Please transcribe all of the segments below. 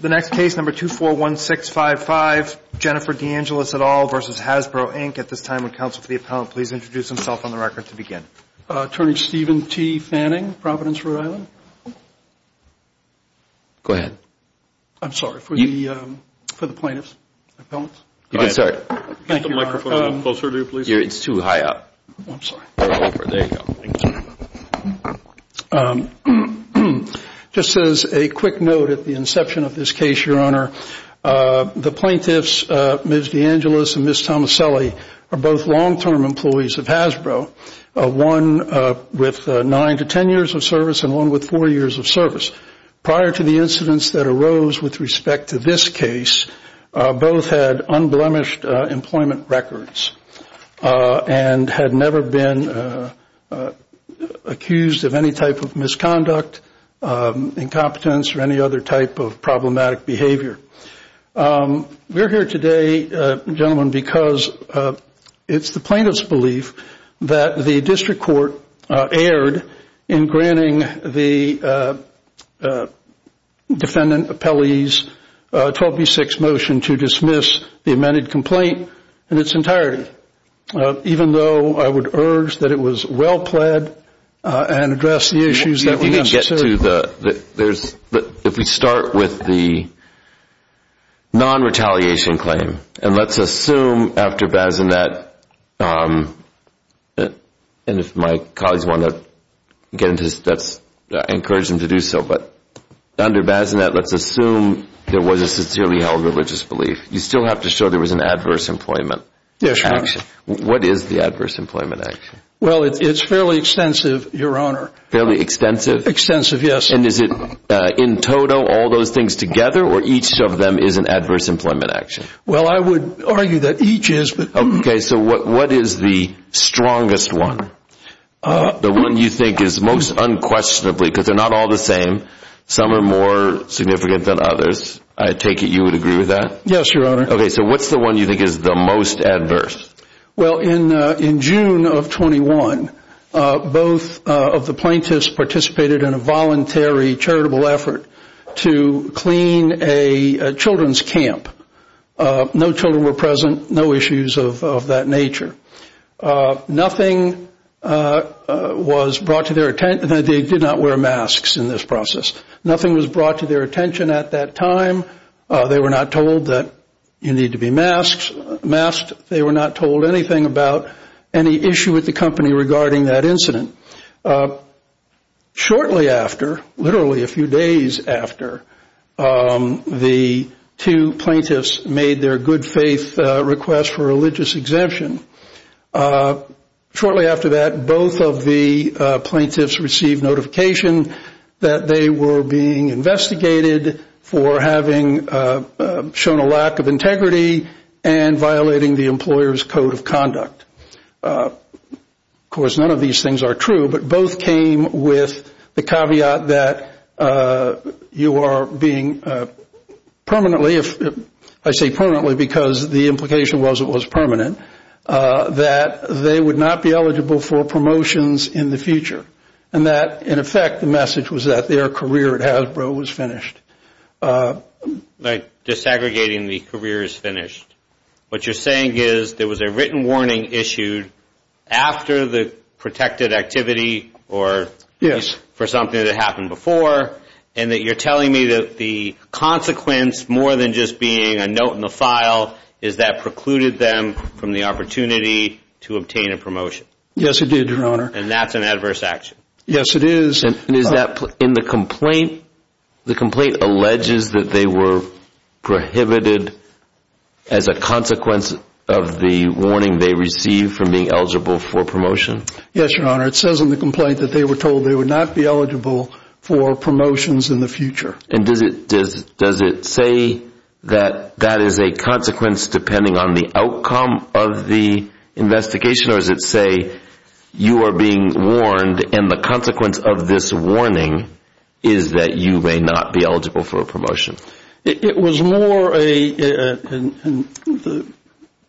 The next case, number 241655, Jennifer DeAngelis et al. v. Hasbro, Inc. At this time, would counsel for the appellant please introduce himself on the record to begin? Attorney Steven T. Fanning, Providence, Rhode Island. Go ahead. I'm sorry, for the plaintiff's appellant. You can start. Thank you, Your Honor. It's too high up. I'm sorry. There you go. Just as a quick note at the inception of this case, Your Honor, the plaintiffs, Ms. DeAngelis and Ms. Tomaselli, are both long-term employees of Hasbro, one with nine to ten years of service and one with four years of service. Prior to the incidents that arose with respect to this case, both had unblemished employment records and had never been accused of any type of misconduct, incompetence or any other type of problematic behavior. We're here today, gentlemen, because it's the plaintiff's belief that the district court erred in granting the defendant appellee's 12B6 motion to dismiss the amended complaint in its entirety, even though I would urge that it was well pled and address the issues that were necessary. If we start with the non-retaliation claim, and let's assume after Bazinet, and if my colleagues want to get into this, I encourage them to do so, but under Bazinet, let's assume there was a sincerely held religious belief. You still have to show there was an adverse employment action. What is the adverse employment action? Well, it's fairly extensive, Your Honor. Fairly extensive? Extensive, yes. And is it in total, all those things together, or each of them is an adverse employment action? Well, I would argue that each is, but... Okay, so what is the strongest one? The one you think is most unquestionably, because they're not all the same, some are more significant than others, I take it you would agree with that? Yes, Your Honor. Okay, so what's the one you think is the most adverse? Well, in June of 21, both of the plaintiffs participated in a voluntary charitable effort to clean a children's camp. No children were present, no issues of that nature. Nothing was brought to their attention, they did not wear masks in this process. Nothing was brought to their attention at that time. They were not told that you need to be masked. They were not told anything about any issue with the company regarding that incident. Shortly after, literally a few days after, the two plaintiffs made their good faith request for religious exemption. Shortly after that, both of the plaintiffs received notification that they were being investigated for having shown a lack of integrity and violating the employer's code of conduct. Of course, none of these things are true, but both came with the caveat that you are permanently, I say permanently because the implication was it was permanent, that they would not be eligible for promotions in the future. In effect, the message was that their career at Hasbro was finished. Like desegregating the career is finished. What you're saying is there was a written warning issued after the protected activity or for something that happened before and that you're telling me that the consequence more than just being a note in the file is that precluded them from the opportunity to obtain a promotion. Yes, it did, your honor. And that's an adverse action. Yes, it is. And is that, in the complaint, the complaint alleges that they were prohibited as a consequence of the warning they received from being eligible for promotion? Yes, your honor, it says in the complaint that they were told they would not be eligible for promotions in the future. And does it say that that is a consequence depending on the outcome of the investigation or does it say you are being warned and the consequence of this warning is that you may not be eligible for a promotion? It was more a, the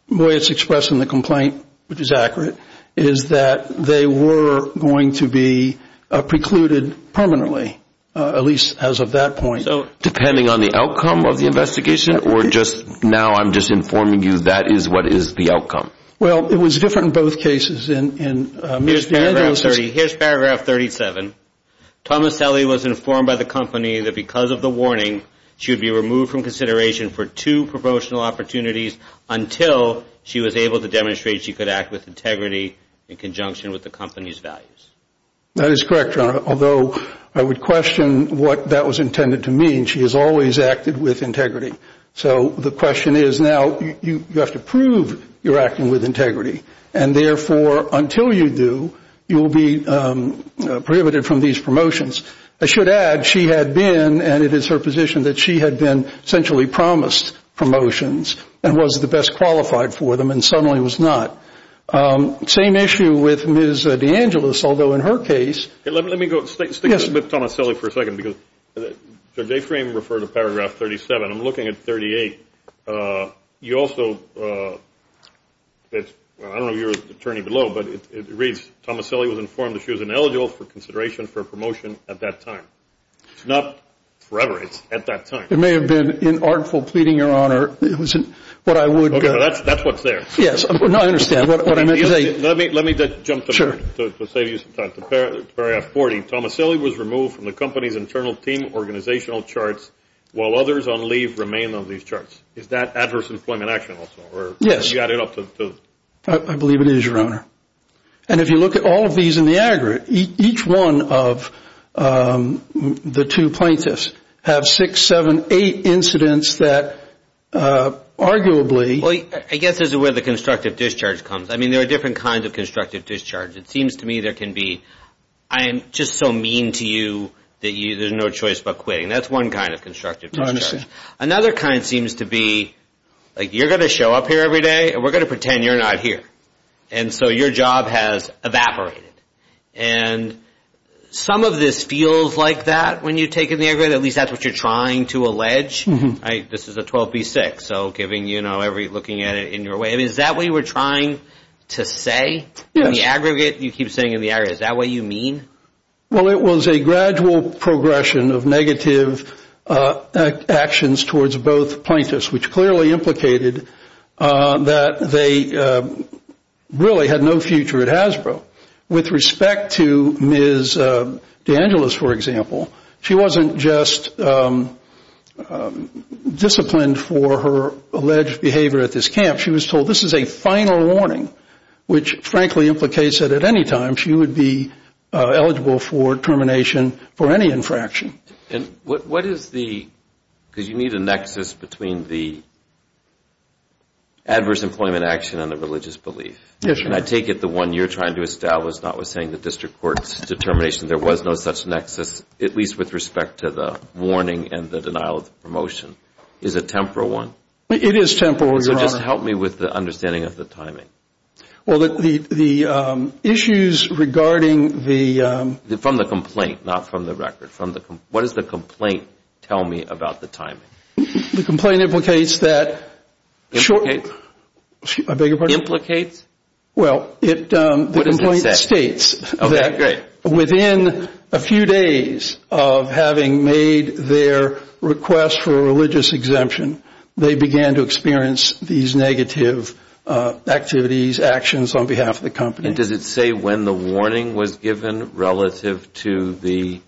way it's expressed in the complaint, which is accurate, is that they were going to be precluded permanently, at least as of that point. So, depending on the outcome of the investigation or just now I'm just informing you that is what is the outcome? Well, it was different in both cases. Here's paragraph 37. Thomas Selle was informed by the company that because of the warning she would be removed from consideration for two promotional opportunities until she was able to demonstrate she could act with integrity in conjunction with the company's values. That is correct, your honor. Although, I would question what that was intended to mean. She has always acted with integrity. So, the question is now you have to prove you're acting with integrity. And therefore, until you do, you'll be prohibited from these promotions. I should add she had been and it is her position that she had been essentially promised promotions and was the best qualified for them and suddenly was not. Same issue with Ms. DeAngelis, although in her case... Let me go, stick with Thomas Selle for a second because Judge Aframe referred to paragraph 37. I'm looking at 38. You also... I don't know if you're an attorney below, but it reads, Thomas Selle was informed that she was ineligible for consideration for a promotion at that time. It's not forever, it's at that time. It may have been inartful pleading, your honor. It wasn't what I would... That's what's there. Yes, I understand what I meant to say. Let me jump to paragraph 40. Thomas Selle was removed from the company's internal team organizational charts while others on leave remain on these charts. Is that adverse employment action also? Yes. I believe it is, your honor. If you look at all of these in the aggregate, each one of the two plaintiffs have six, seven, eight incidents that arguably... I guess this is where the constructive discharge comes. There are different kinds of constructive discharge. It seems to me there can be... I'm just so mean to you that there's no choice but quitting. That's one kind of constructive discharge. Another kind seems to be like, you're going to show up here every day and we're going to pretend you're not here. And so your job has evaporated. And some of this feels like that when you take in the aggregate, at least that's what you're trying to allege. This is a 12B6, so looking at it in your way. Is that what you were trying to say? In the aggregate, you keep saying in the aggregate. Is that what you mean? Well, it was a gradual progression of negative actions towards both plaintiffs, which clearly implicated that they really had no future at Hasbro. With respect to Ms. DeAngelis, for example, she wasn't just disciplined for her alleged behavior at this camp. She was told this is a final warning, which frankly implicates that at any time she would be eligible for termination for any infraction. And what is the... because you need a nexus between the adverse employment action and the religious belief. Yes, sir. And I take it the one you're trying to establish, notwithstanding the district court's determination, there was no such nexus, at least with respect to the warning and the denial of the promotion. Is it a temporal one? It is temporal, Your Honor. So just help me with the understanding of the timing. Well, the issues regarding the... From the complaint, not from the record. What does the complaint tell me about the timing? The complaint implicates that... Implicates? I beg your pardon? Implicates? Well, the complaint states that within a few days of having made their request for a religious exemption, they began to experience these negative activities, actions on behalf of the company. And does it say when the warning was given relative to the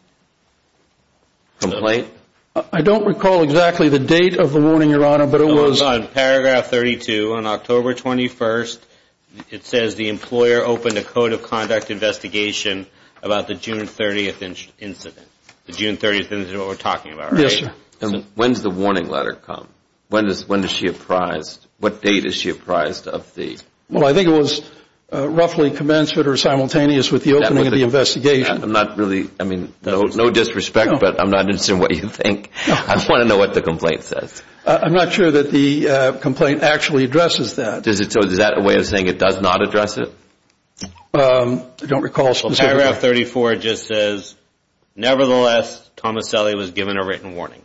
complaint? I don't recall exactly the date of the warning, Your Honor, but it was... It was on paragraph 32. On October 21st, it says the employer opened a code of conduct investigation about the June 30th incident. The June 30th incident is what we're talking about, right? Yes, sir. And when's the warning letter come? When is she apprised? What date is she apprised of the... Well, I think it was roughly commenced or simultaneous with the opening of the investigation. I'm not really... I mean, no disrespect, but I'm not interested in what you think. I want to know what the complaint says. I'm not sure that the complaint actually addresses that. So is that a way of saying it does not address it? I don't recall specifically. Paragraph 34 just says, nevertheless, Tomaselli was given a written warning.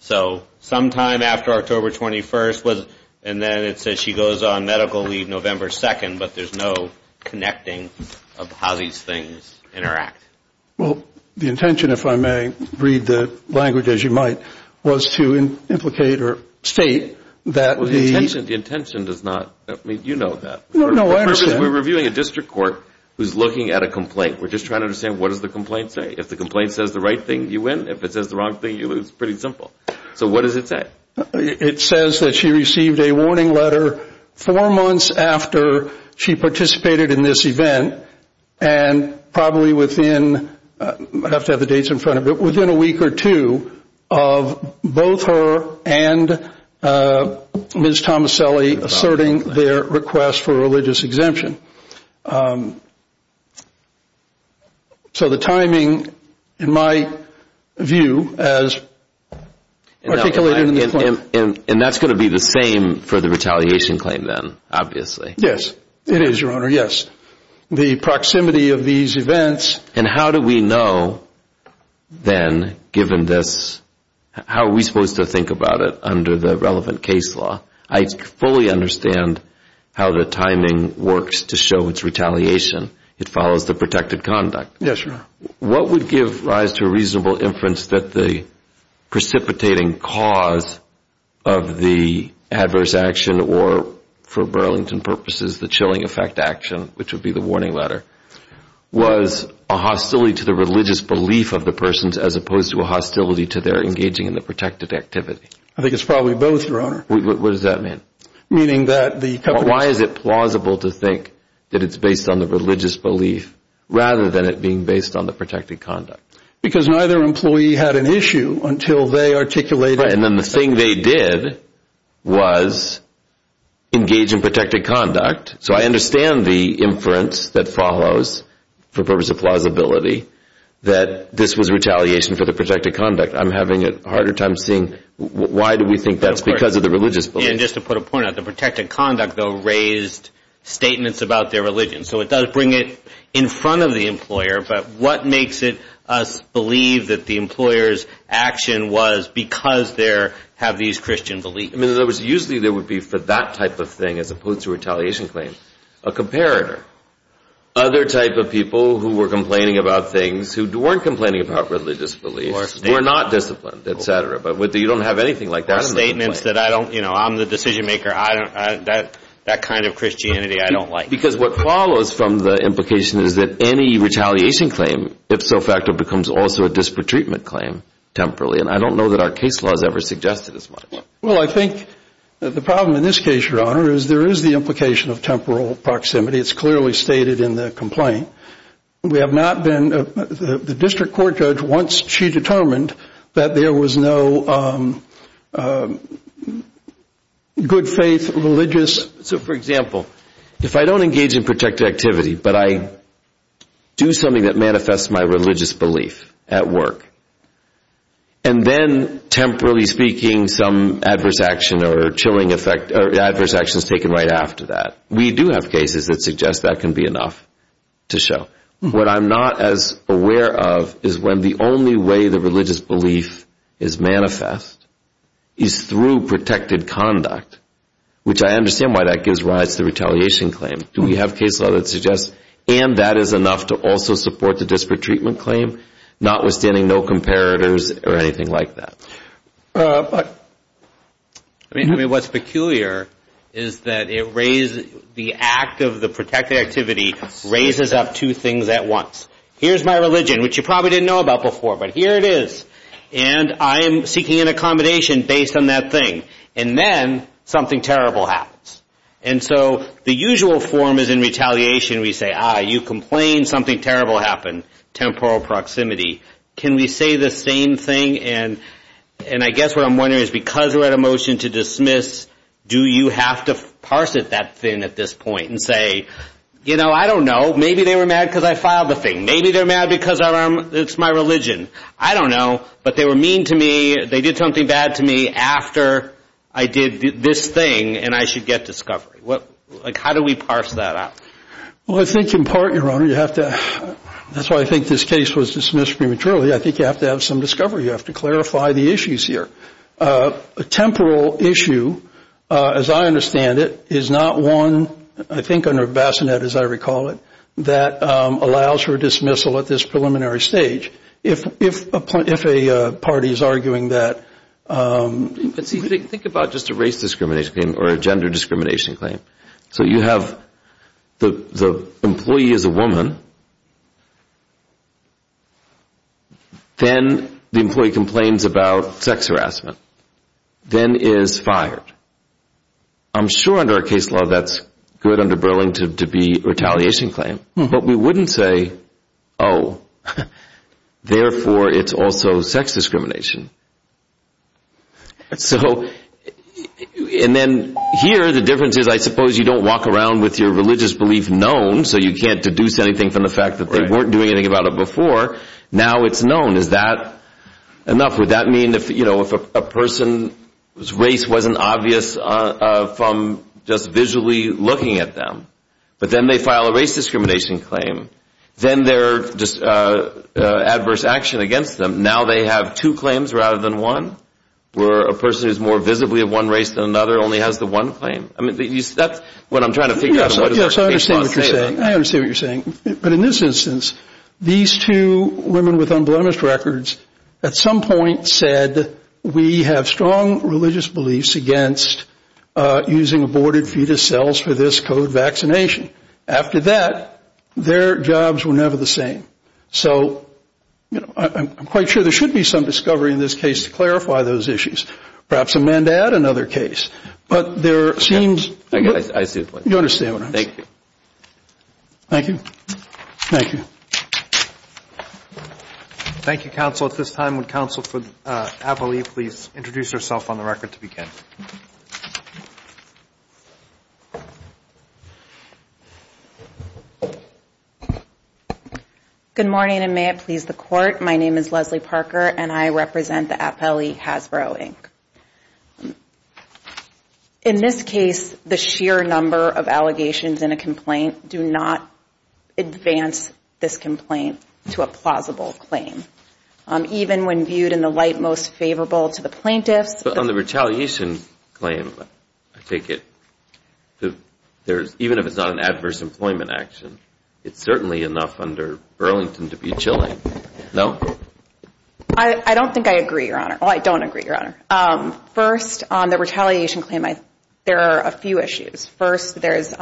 So sometime after October 21st was... and then it says she goes on medical leave November 2nd, but there's no connecting of how these things interact. Well, the intention, if I may read the language as you might, was to implicate or state that the... Well, the intention does not... I mean, you know that. No, I understand. We're reviewing a district court who's looking at a complaint. We're just trying to understand what does the complaint say. If the complaint says the right thing, you win. If it says the wrong thing, you lose. Pretty simple. So what does it say? It says that she received a warning letter four months after she participated in this event and probably within... I have to have the dates in front of me. Within a week or two of both her and Ms. Tomaselli asserting their request for a religious exemption. So the timing, in my view, as articulated in the claim... And that's going to be the same for the retaliation claim then, obviously. Yes, it is, Your Honor, yes. The proximity of these events... And how do we know then, given this, how are we supposed to think about it under the relevant case law? I fully understand how the timing works to show its retaliation. It follows the protected conduct. Yes, Your Honor. What would give rise to a reasonable inference that the precipitating cause of the adverse action or, for Burlington purposes, the chilling effect action, which would be the warning letter, was a hostility to the religious belief of the persons as opposed to a hostility to their engaging in the protected activity? I think it's probably both, Your Honor. What does that mean? Meaning that the... Why is it plausible to think that it's based on the religious belief rather than it being based on the protected conduct? Because neither employee had an issue until they articulated... And then the thing they did was engage in protected conduct. So I understand the inference that follows, for purpose of plausibility, that this was retaliation for the protected conduct. I'm having a harder time seeing why do we think that's because of the religious belief. And just to put a point out, the protected conduct, though, raised statements about their religion. So it does bring it in front of the employer, but what makes it us believe that the employer's action was because they have these Christian beliefs? In other words, usually there would be, for that type of thing, as opposed to retaliation claims, a comparator. Other type of people who were complaining about things who weren't complaining about religious beliefs or were not disciplined, et cetera. But you don't have anything like that. Or statements that, you know, I'm the decision maker, that kind of Christianity I don't like. Because what follows from the implication is that any retaliation claim, ipso facto, becomes also a disparate treatment claim, temporarily. And I don't know that our case law has ever suggested as much. Well, I think the problem in this case, Your Honor, is there is the implication of temporal proximity. It's clearly stated in the complaint. We have not been, the district court judge, once she determined that there was no good faith, religious. So, for example, if I don't engage in protective activity, but I do something that manifests my religious belief at work, and then, temporally speaking, some adverse action or chilling effect, adverse action is taken right after that. We do have cases that suggest that can be enough to show. What I'm not as aware of is when the only way the religious belief is manifest is through protected conduct, which I understand why that gives rise to the retaliation claim. Do we have case law that suggests, and that is enough to also support the disparate treatment claim, notwithstanding no comparators or anything like that? But, I mean, what's peculiar is that it raises, the act of the protected activity raises up two things at once. Here's my religion, which you probably didn't know about before, but here it is. And I am seeking an accommodation based on that thing. And then something terrible happens. And so the usual form is in retaliation we say, ah, you complained, something terrible happened, temporal proximity. Can we say the same thing? And I guess what I'm wondering is because we're at a motion to dismiss, do you have to parse it that thin at this point and say, you know, I don't know. Maybe they were mad because I filed the thing. Maybe they're mad because it's my religion. I don't know. But they were mean to me. They did something bad to me after I did this thing and I should get discovery. How do we parse that out? Well, I think in part, Your Honor, you have to, that's why I think this case was dismissed prematurely, I think you have to have some discovery. You have to clarify the issues here. A temporal issue, as I understand it, is not one, I think under bassinet as I recall it, that allows for dismissal at this preliminary stage. If a party is arguing that. Think about just a race discrimination claim or a gender discrimination claim. So you have the employee is a woman. Then the employee complains about sex harassment. Then is fired. I'm sure under a case law that's good under Burling to be retaliation claim. But we wouldn't say, oh, therefore it's also sex discrimination. So, and then here the difference is I suppose you don't walk around with your religious belief known so you can't deduce anything from the fact that they weren't doing anything about it before. Now it's known. Is that enough? Would that mean if a person's race wasn't obvious from just visually looking at them. But then they file a race discrimination claim. Then they're just adverse action against them. Now they have two claims rather than one. Where a person who is more visibly of one race than another only has the one claim. That's what I'm trying to figure out. Yes, I understand what you're saying. I understand what you're saying. But in this instance, these two women with unblemished records at some point said, we have strong religious beliefs against using aborted fetus cells for this COVID vaccination. After that, their jobs were never the same. So, you know, I'm quite sure there should be some discovery in this case to clarify those issues. Perhaps a mandate, another case. But there seems. I see what you're saying. Thank you. Thank you. Thank you. Thank you, counsel. At this time, would counsel for APLE please introduce herself on the record to begin. Good morning and may it please the court. My name is Leslie Parker and I represent the APLE Hasbro Inc. In this case, the sheer number of allegations in a complaint do not advance this complaint to a plausible claim. Even when viewed in the light most favorable to the plaintiffs. But on the retaliation claim, I take it, even if it's not an adverse employment action, it's certainly enough under Burlington to be chilling. No? I don't think I agree, Your Honor. Well, I don't agree, Your Honor. First, on the retaliation claim, there are a few issues. First, there's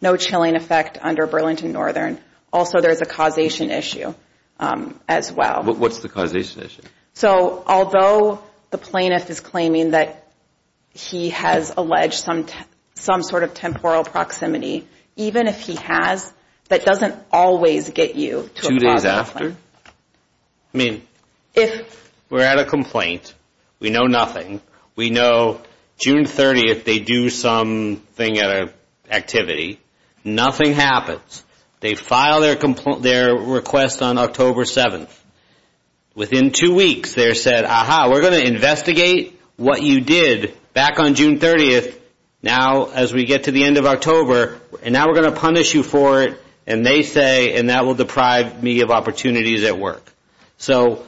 no chilling effect under Burlington Northern. Also, there's a causation issue as well. What's the causation issue? So, although the plaintiff is claiming that he has alleged some sort of temporal proximity, even if he has, that doesn't always get you to a plausible claim. Two days after? I mean, if we're at a complaint, we know nothing. We know June 30th they do something at an activity. Nothing happens. They file their request on October 7th. Within two weeks, they're said, Aha, we're going to investigate what you did back on June 30th, now as we get to the end of October, and now we're going to punish you for it. And they say, and that will deprive me of opportunities at work. So,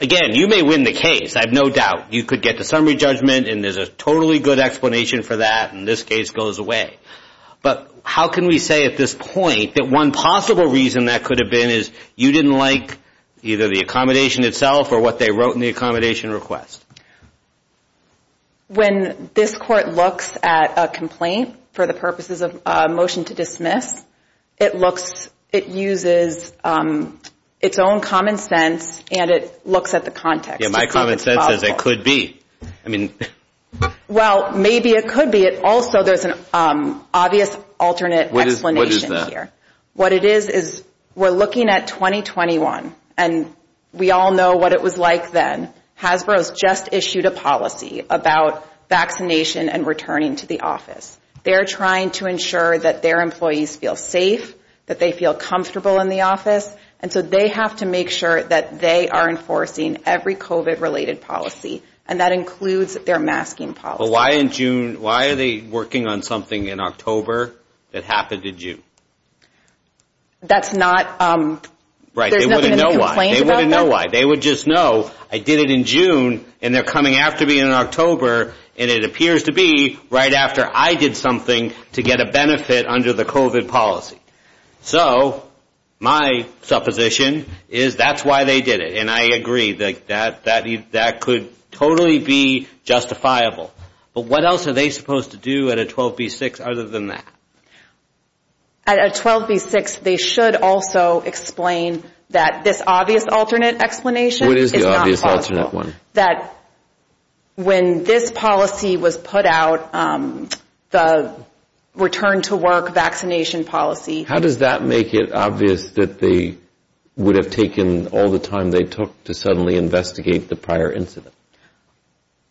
again, you may win the case, I have no doubt. You could get the summary judgment, and there's a totally good explanation for that, and this case goes away. But how can we say at this point that one possible reason that could have been is you didn't like either the accommodation itself or what they wrote in the accommodation request? When this Court looks at a complaint for the purposes of a motion to dismiss, it uses its own common sense, and it looks at the context. Yeah, my common sense says it could be. Well, maybe it could be. Also, there's an obvious alternate explanation here. What it is is we're looking at 2021, and we all know what it was like then. Hasbro has just issued a policy about vaccination and returning to the office. They're trying to ensure that their employees feel safe, that they feel comfortable in the office, and so they have to make sure that they are enforcing every COVID-related policy, and that includes their masking policy. Well, why in June? Why are they working on something in October that happened in June? That's not... Right, they wouldn't know why. There's nothing in the complaint about that? They wouldn't know why. They would just know, I did it in June, and they're coming after me in October, and it appears to be right after I did something to get a benefit under the COVID policy. So, my supposition is that's why they did it, and I agree that that could totally be justifiable. But what else are they supposed to do at a 12B6 other than that? At a 12B6, they should also explain that this obvious alternate explanation is not possible. What is the obvious alternate one? That when this policy was put out, the return to work vaccination policy... How does that make it obvious that they would have taken all the time they took to suddenly investigate the prior incident?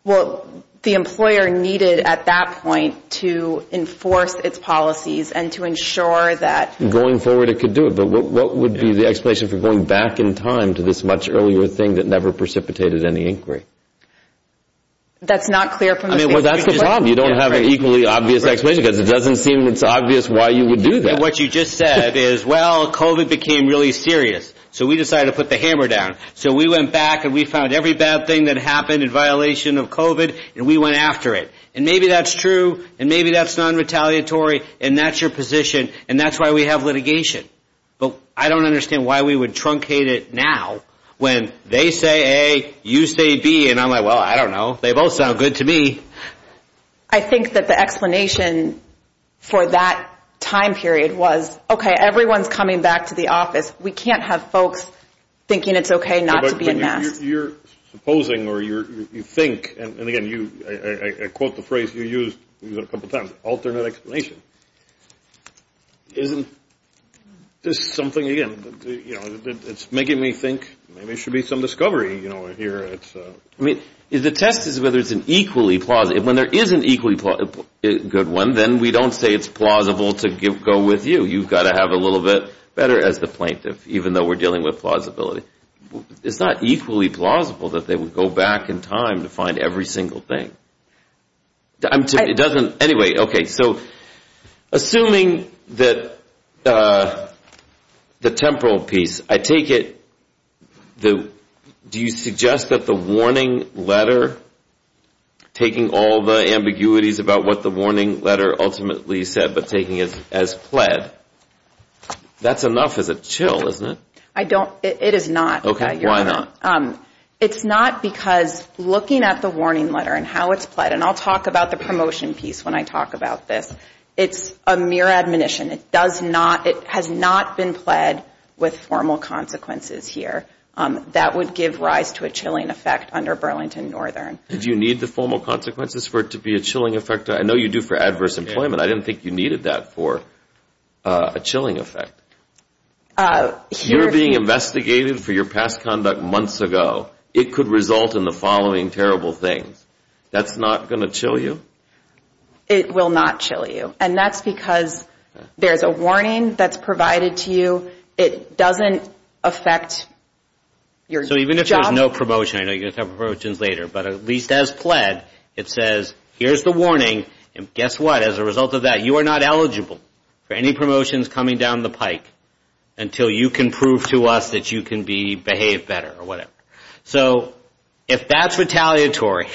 Well, the employer needed at that point to enforce its policies and to ensure that... Going forward, it could do it, but what would be the explanation for going back in time to this much earlier thing that never precipitated any inquiry? That's not clear from the... Well, that's the problem. You don't have an equally obvious explanation, because it doesn't seem it's obvious why you would do that. What you just said is, well, COVID became really serious, so we decided to put the hammer down. So, we went back, and we found every bad thing that happened in violation of COVID, and we went after it. And maybe that's true, and maybe that's non-retaliatory, and that's your position, and that's why we have litigation. But I don't understand why we would truncate it now when they say A, you say B, and I'm like, well, I don't know. They both sound good to me. I think that the explanation for that time period was, okay, everyone's coming back to the office. We can't have folks thinking it's okay not to be in masks. But you're supposing, or you think... And again, I quote the phrase you used a couple times, alternate explanation. Isn't this something again? It's making me think maybe there should be some discovery here. I mean, the test is whether it's an equally plausible. When there is an equally good one, then we don't say it's plausible to go with you. You've got to have a little bit better as the plaintiff, even though we're dealing with plausibility. It's not equally plausible that they would go back in time to find every single thing. It doesn't... Anyway, okay, so assuming that the temporal piece, I take it, do you suggest that the warning letter, taking all the ambiguities about what the warning letter ultimately said, but taking it as pled, that's enough as a chill, isn't it? I don't... It is not. Okay, why not? It's not because looking at the warning letter and how it's pled, and I'll talk about the promotion piece when I talk about this. It's a mere admonition. It does not... It has not been pled with formal consequences here. That would give rise to a chilling effect under Burlington Northern. Do you need the formal consequences for it to be a chilling effect? I know you do for adverse employment. I didn't think you needed that for a chilling effect. If you're being investigated for your past conduct months ago, it could result in the following terrible things. That's not going to chill you? It will not chill you, and that's because there's a warning that's provided to you. It doesn't affect your job... So even if there's no promotion, I know you're going to talk about promotions later, but at least as pled, it says, here's the warning, and guess what? As a result of that, you are not eligible for any promotions coming down the pike until you can prove to us that you can behave better or whatever. So if that's retaliatory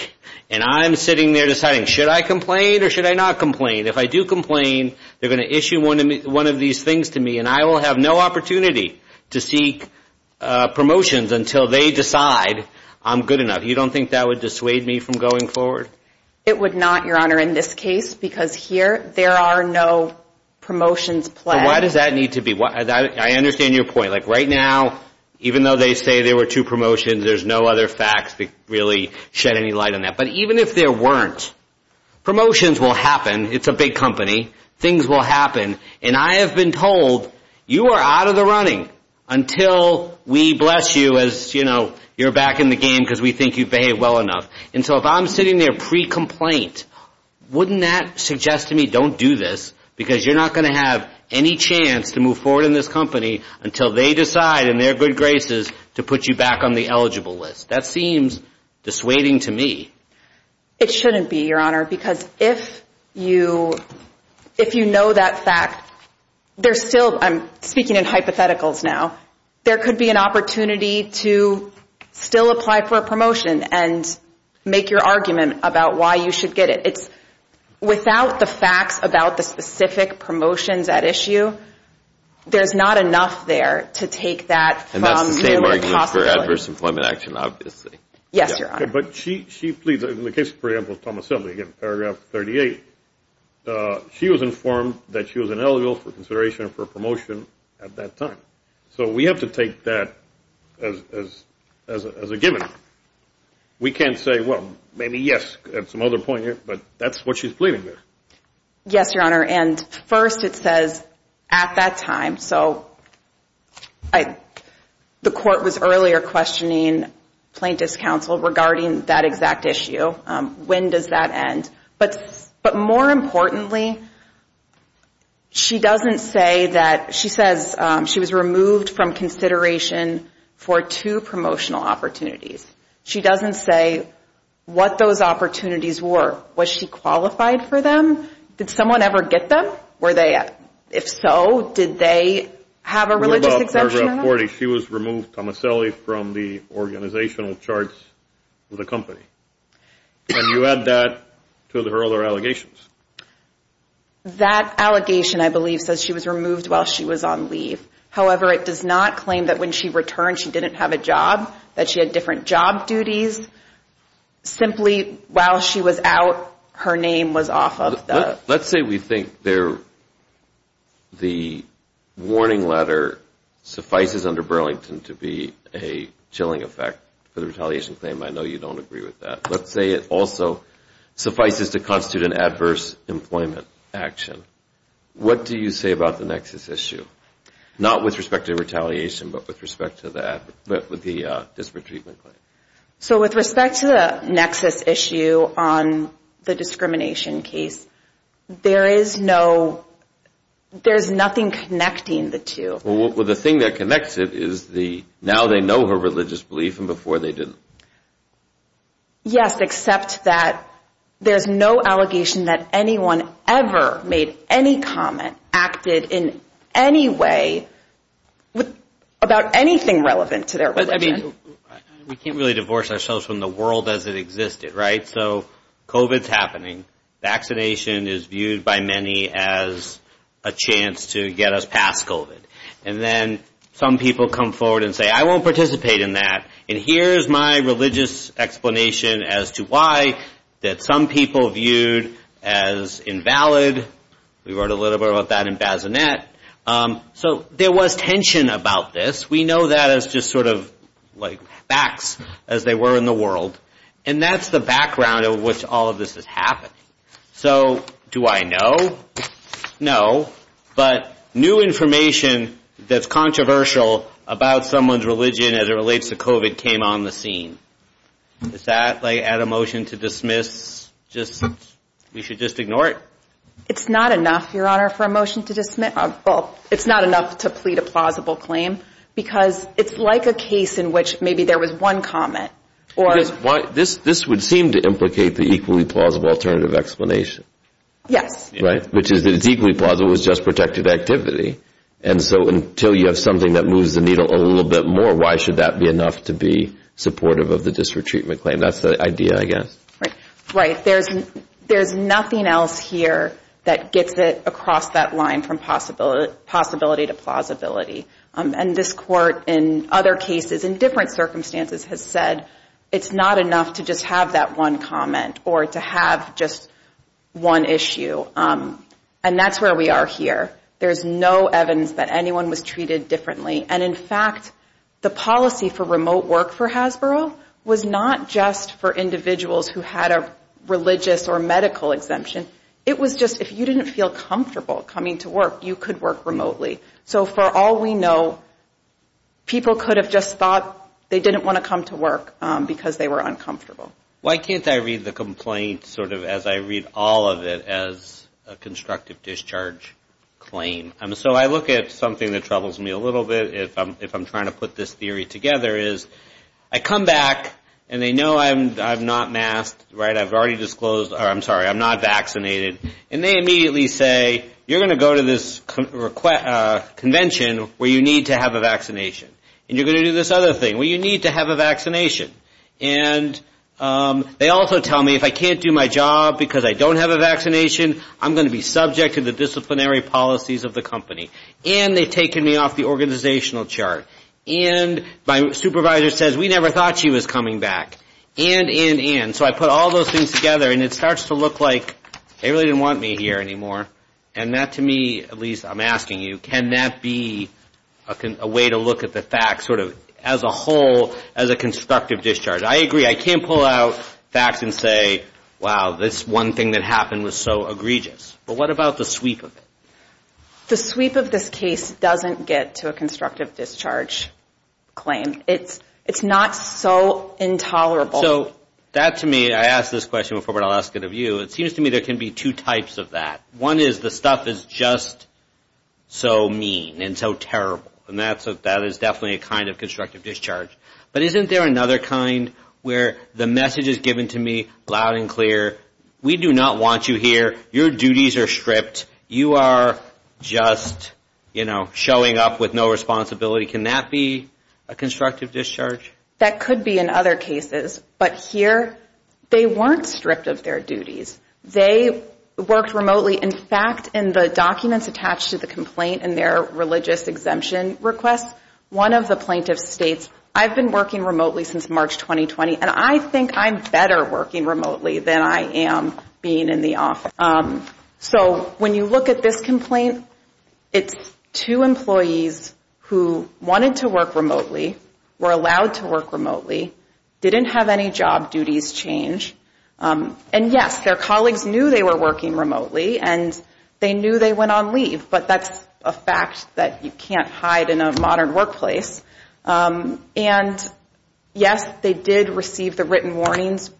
and I'm sitting there deciding, should I complain or should I not complain? If I do complain, they're going to issue one of these things to me, and I will have no opportunity to seek promotions until they decide I'm good enough. You don't think that would dissuade me from going forward? It would not, Your Honor, in this case, because here there are no promotions pled. So why does that need to be? I understand your point. Like right now, even though they say there were two promotions, there's no other facts that really shed any light on that. But even if there weren't, promotions will happen. It's a big company. Things will happen, and I have been told, you are out of the running until we bless you as, you know, you're back in the game because we think you've behaved well enough. And so if I'm sitting there pre-complaint, wouldn't that suggest to me don't do this because you're not going to have any chance to move forward in this company until they decide in their good graces to put you back on the eligible list? That seems dissuading to me. It shouldn't be, Your Honor, because if you know that fact, there's still, I'm speaking in hypotheticals now, there could be an opportunity to still apply for a promotion and make your argument about why you should get it. It's without the facts about the specific promotions at issue, there's not enough there to take that from you impossibly. And that's the same argument for adverse employment action, obviously. Yes, Your Honor. Okay, but she pleads, in the case, for example, of Thomas Shelby, paragraph 38, she was informed that she was ineligible for consideration for a promotion at that time. So we have to take that as a given. We can't say, well, maybe yes at some other point, but that's what she's pleading there. Yes, Your Honor, and first it says at that time. So the court was earlier questioning plaintiff's counsel regarding that exact issue. When does that end? But more importantly, she doesn't say that, she says she was removed from consideration for two promotional opportunities. She doesn't say what those opportunities were. Was she qualified for them? Did someone ever get them? If so, did they have a religious exemption? What about paragraph 40? She was removed, Tomaselli, from the organizational charts of the company. And you add that to her other allegations. That allegation, I believe, says she was removed while she was on leave. However, it does not claim that when she returned she didn't have a job, that she had different job duties. Simply, while she was out, her name was off of the. Let's say we think the warning letter suffices under Burlington to be a chilling effect for the retaliation claim. I know you don't agree with that. Let's say it also suffices to constitute an adverse employment action. What do you say about the nexus issue? Not with respect to retaliation, but with respect to the disparate treatment claim. So with respect to the nexus issue on the discrimination case, there is nothing connecting the two. The thing that connects it is now they know her religious belief and before they didn't. Yes, except that there's no allegation that anyone ever made any comment, acted in any way about anything relevant to their religion. We can't really divorce ourselves from the world as it existed, right? So COVID is happening. Vaccination is viewed by many as a chance to get us past COVID. And then some people come forward and say, I won't participate in that. And here is my religious explanation as to why that some people viewed as invalid. We wrote a little bit about that in Bazinet. So there was tension about this. We know that as just sort of like facts as they were in the world. And that's the background of which all of this is happening. So do I know? No. But new information that's controversial about someone's religion as it relates to COVID came on the scene. Does that add a motion to dismiss? We should just ignore it. It's not enough, Your Honor, for a motion to dismiss. It's not enough to plead a plausible claim because it's like a case in which maybe there was one comment. This would seem to implicate the equally plausible alternative explanation. Yes. Which is that it's equally plausible. It was just protected activity. And so until you have something that moves the needle a little bit more, why should that be enough to be supportive of the district treatment claim? That's the idea, I guess. Right. There's nothing else here that gets it across that line from possibility to plausibility. And this Court, in other cases, in different circumstances, has said it's not enough to just have that one comment or to have just one issue. And that's where we are here. There's no evidence that anyone was treated differently. And, in fact, the policy for remote work for Hasbro was not just for individuals who had a religious or medical exemption. It was just if you didn't feel comfortable coming to work, you could work remotely. So for all we know, people could have just thought they didn't want to come to work because they were uncomfortable. Why can't I read the complaint sort of as I read all of it as a constructive discharge claim? So I look at something that troubles me a little bit, if I'm trying to put this theory together, is I come back and they know I'm not masked, right? I've already disclosed or I'm sorry, I'm not vaccinated. And they immediately say, you're going to go to this convention where you need to have a vaccination. And you're going to do this other thing where you need to have a vaccination. And they also tell me if I can't do my job because I don't have a vaccination, I'm going to be subject to the disciplinary policies of the company. And they've taken me off the organizational chart. And my supervisor says, we never thought she was coming back. And, and, and. So I put all those things together and it starts to look like they really didn't want me here anymore. And that to me, at least I'm asking you, can that be a way to look at the facts sort of as a whole, as a constructive discharge? I agree, I can't pull out facts and say, wow, this one thing that happened was so egregious. But what about the sweep of it? The sweep of this case doesn't get to a constructive discharge claim. It's not so intolerable. So that to me, I asked this question before, but I'll ask it of you. It seems to me there can be two types of that. One is the stuff is just so mean and so terrible. And that is definitely a kind of constructive discharge. But isn't there another kind where the message is given to me loud and clear, we do not want you here. Your duties are stripped. You are just, you know, showing up with no responsibility. Can that be a constructive discharge? That could be in other cases, but here they weren't stripped of their duties. They worked remotely. In fact, in the documents attached to the complaint in their religious exemption request, one of the plaintiffs states, I've been working remotely since March 2020, and I think I'm better working remotely than I am being in the office. So when you look at this complaint, it's two employees who wanted to work remotely, were allowed to work remotely, didn't have any job duties changed. And yes, their colleagues knew they were working remotely, and they knew they went on leave. But that's a fact that you can't hide in a modern workplace. And yes, they did receive the written warnings.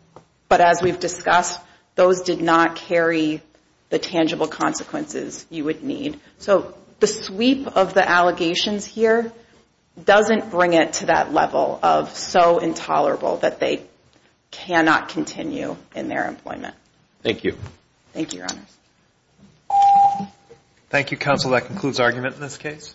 But as we've discussed, those did not carry the tangible consequences you would need. So the sweep of the allegations here doesn't bring it to that level of so intolerable that they cannot continue in their employment. Thank you. Thank you, Your Honors. Thank you, Counsel. That concludes argument in this case.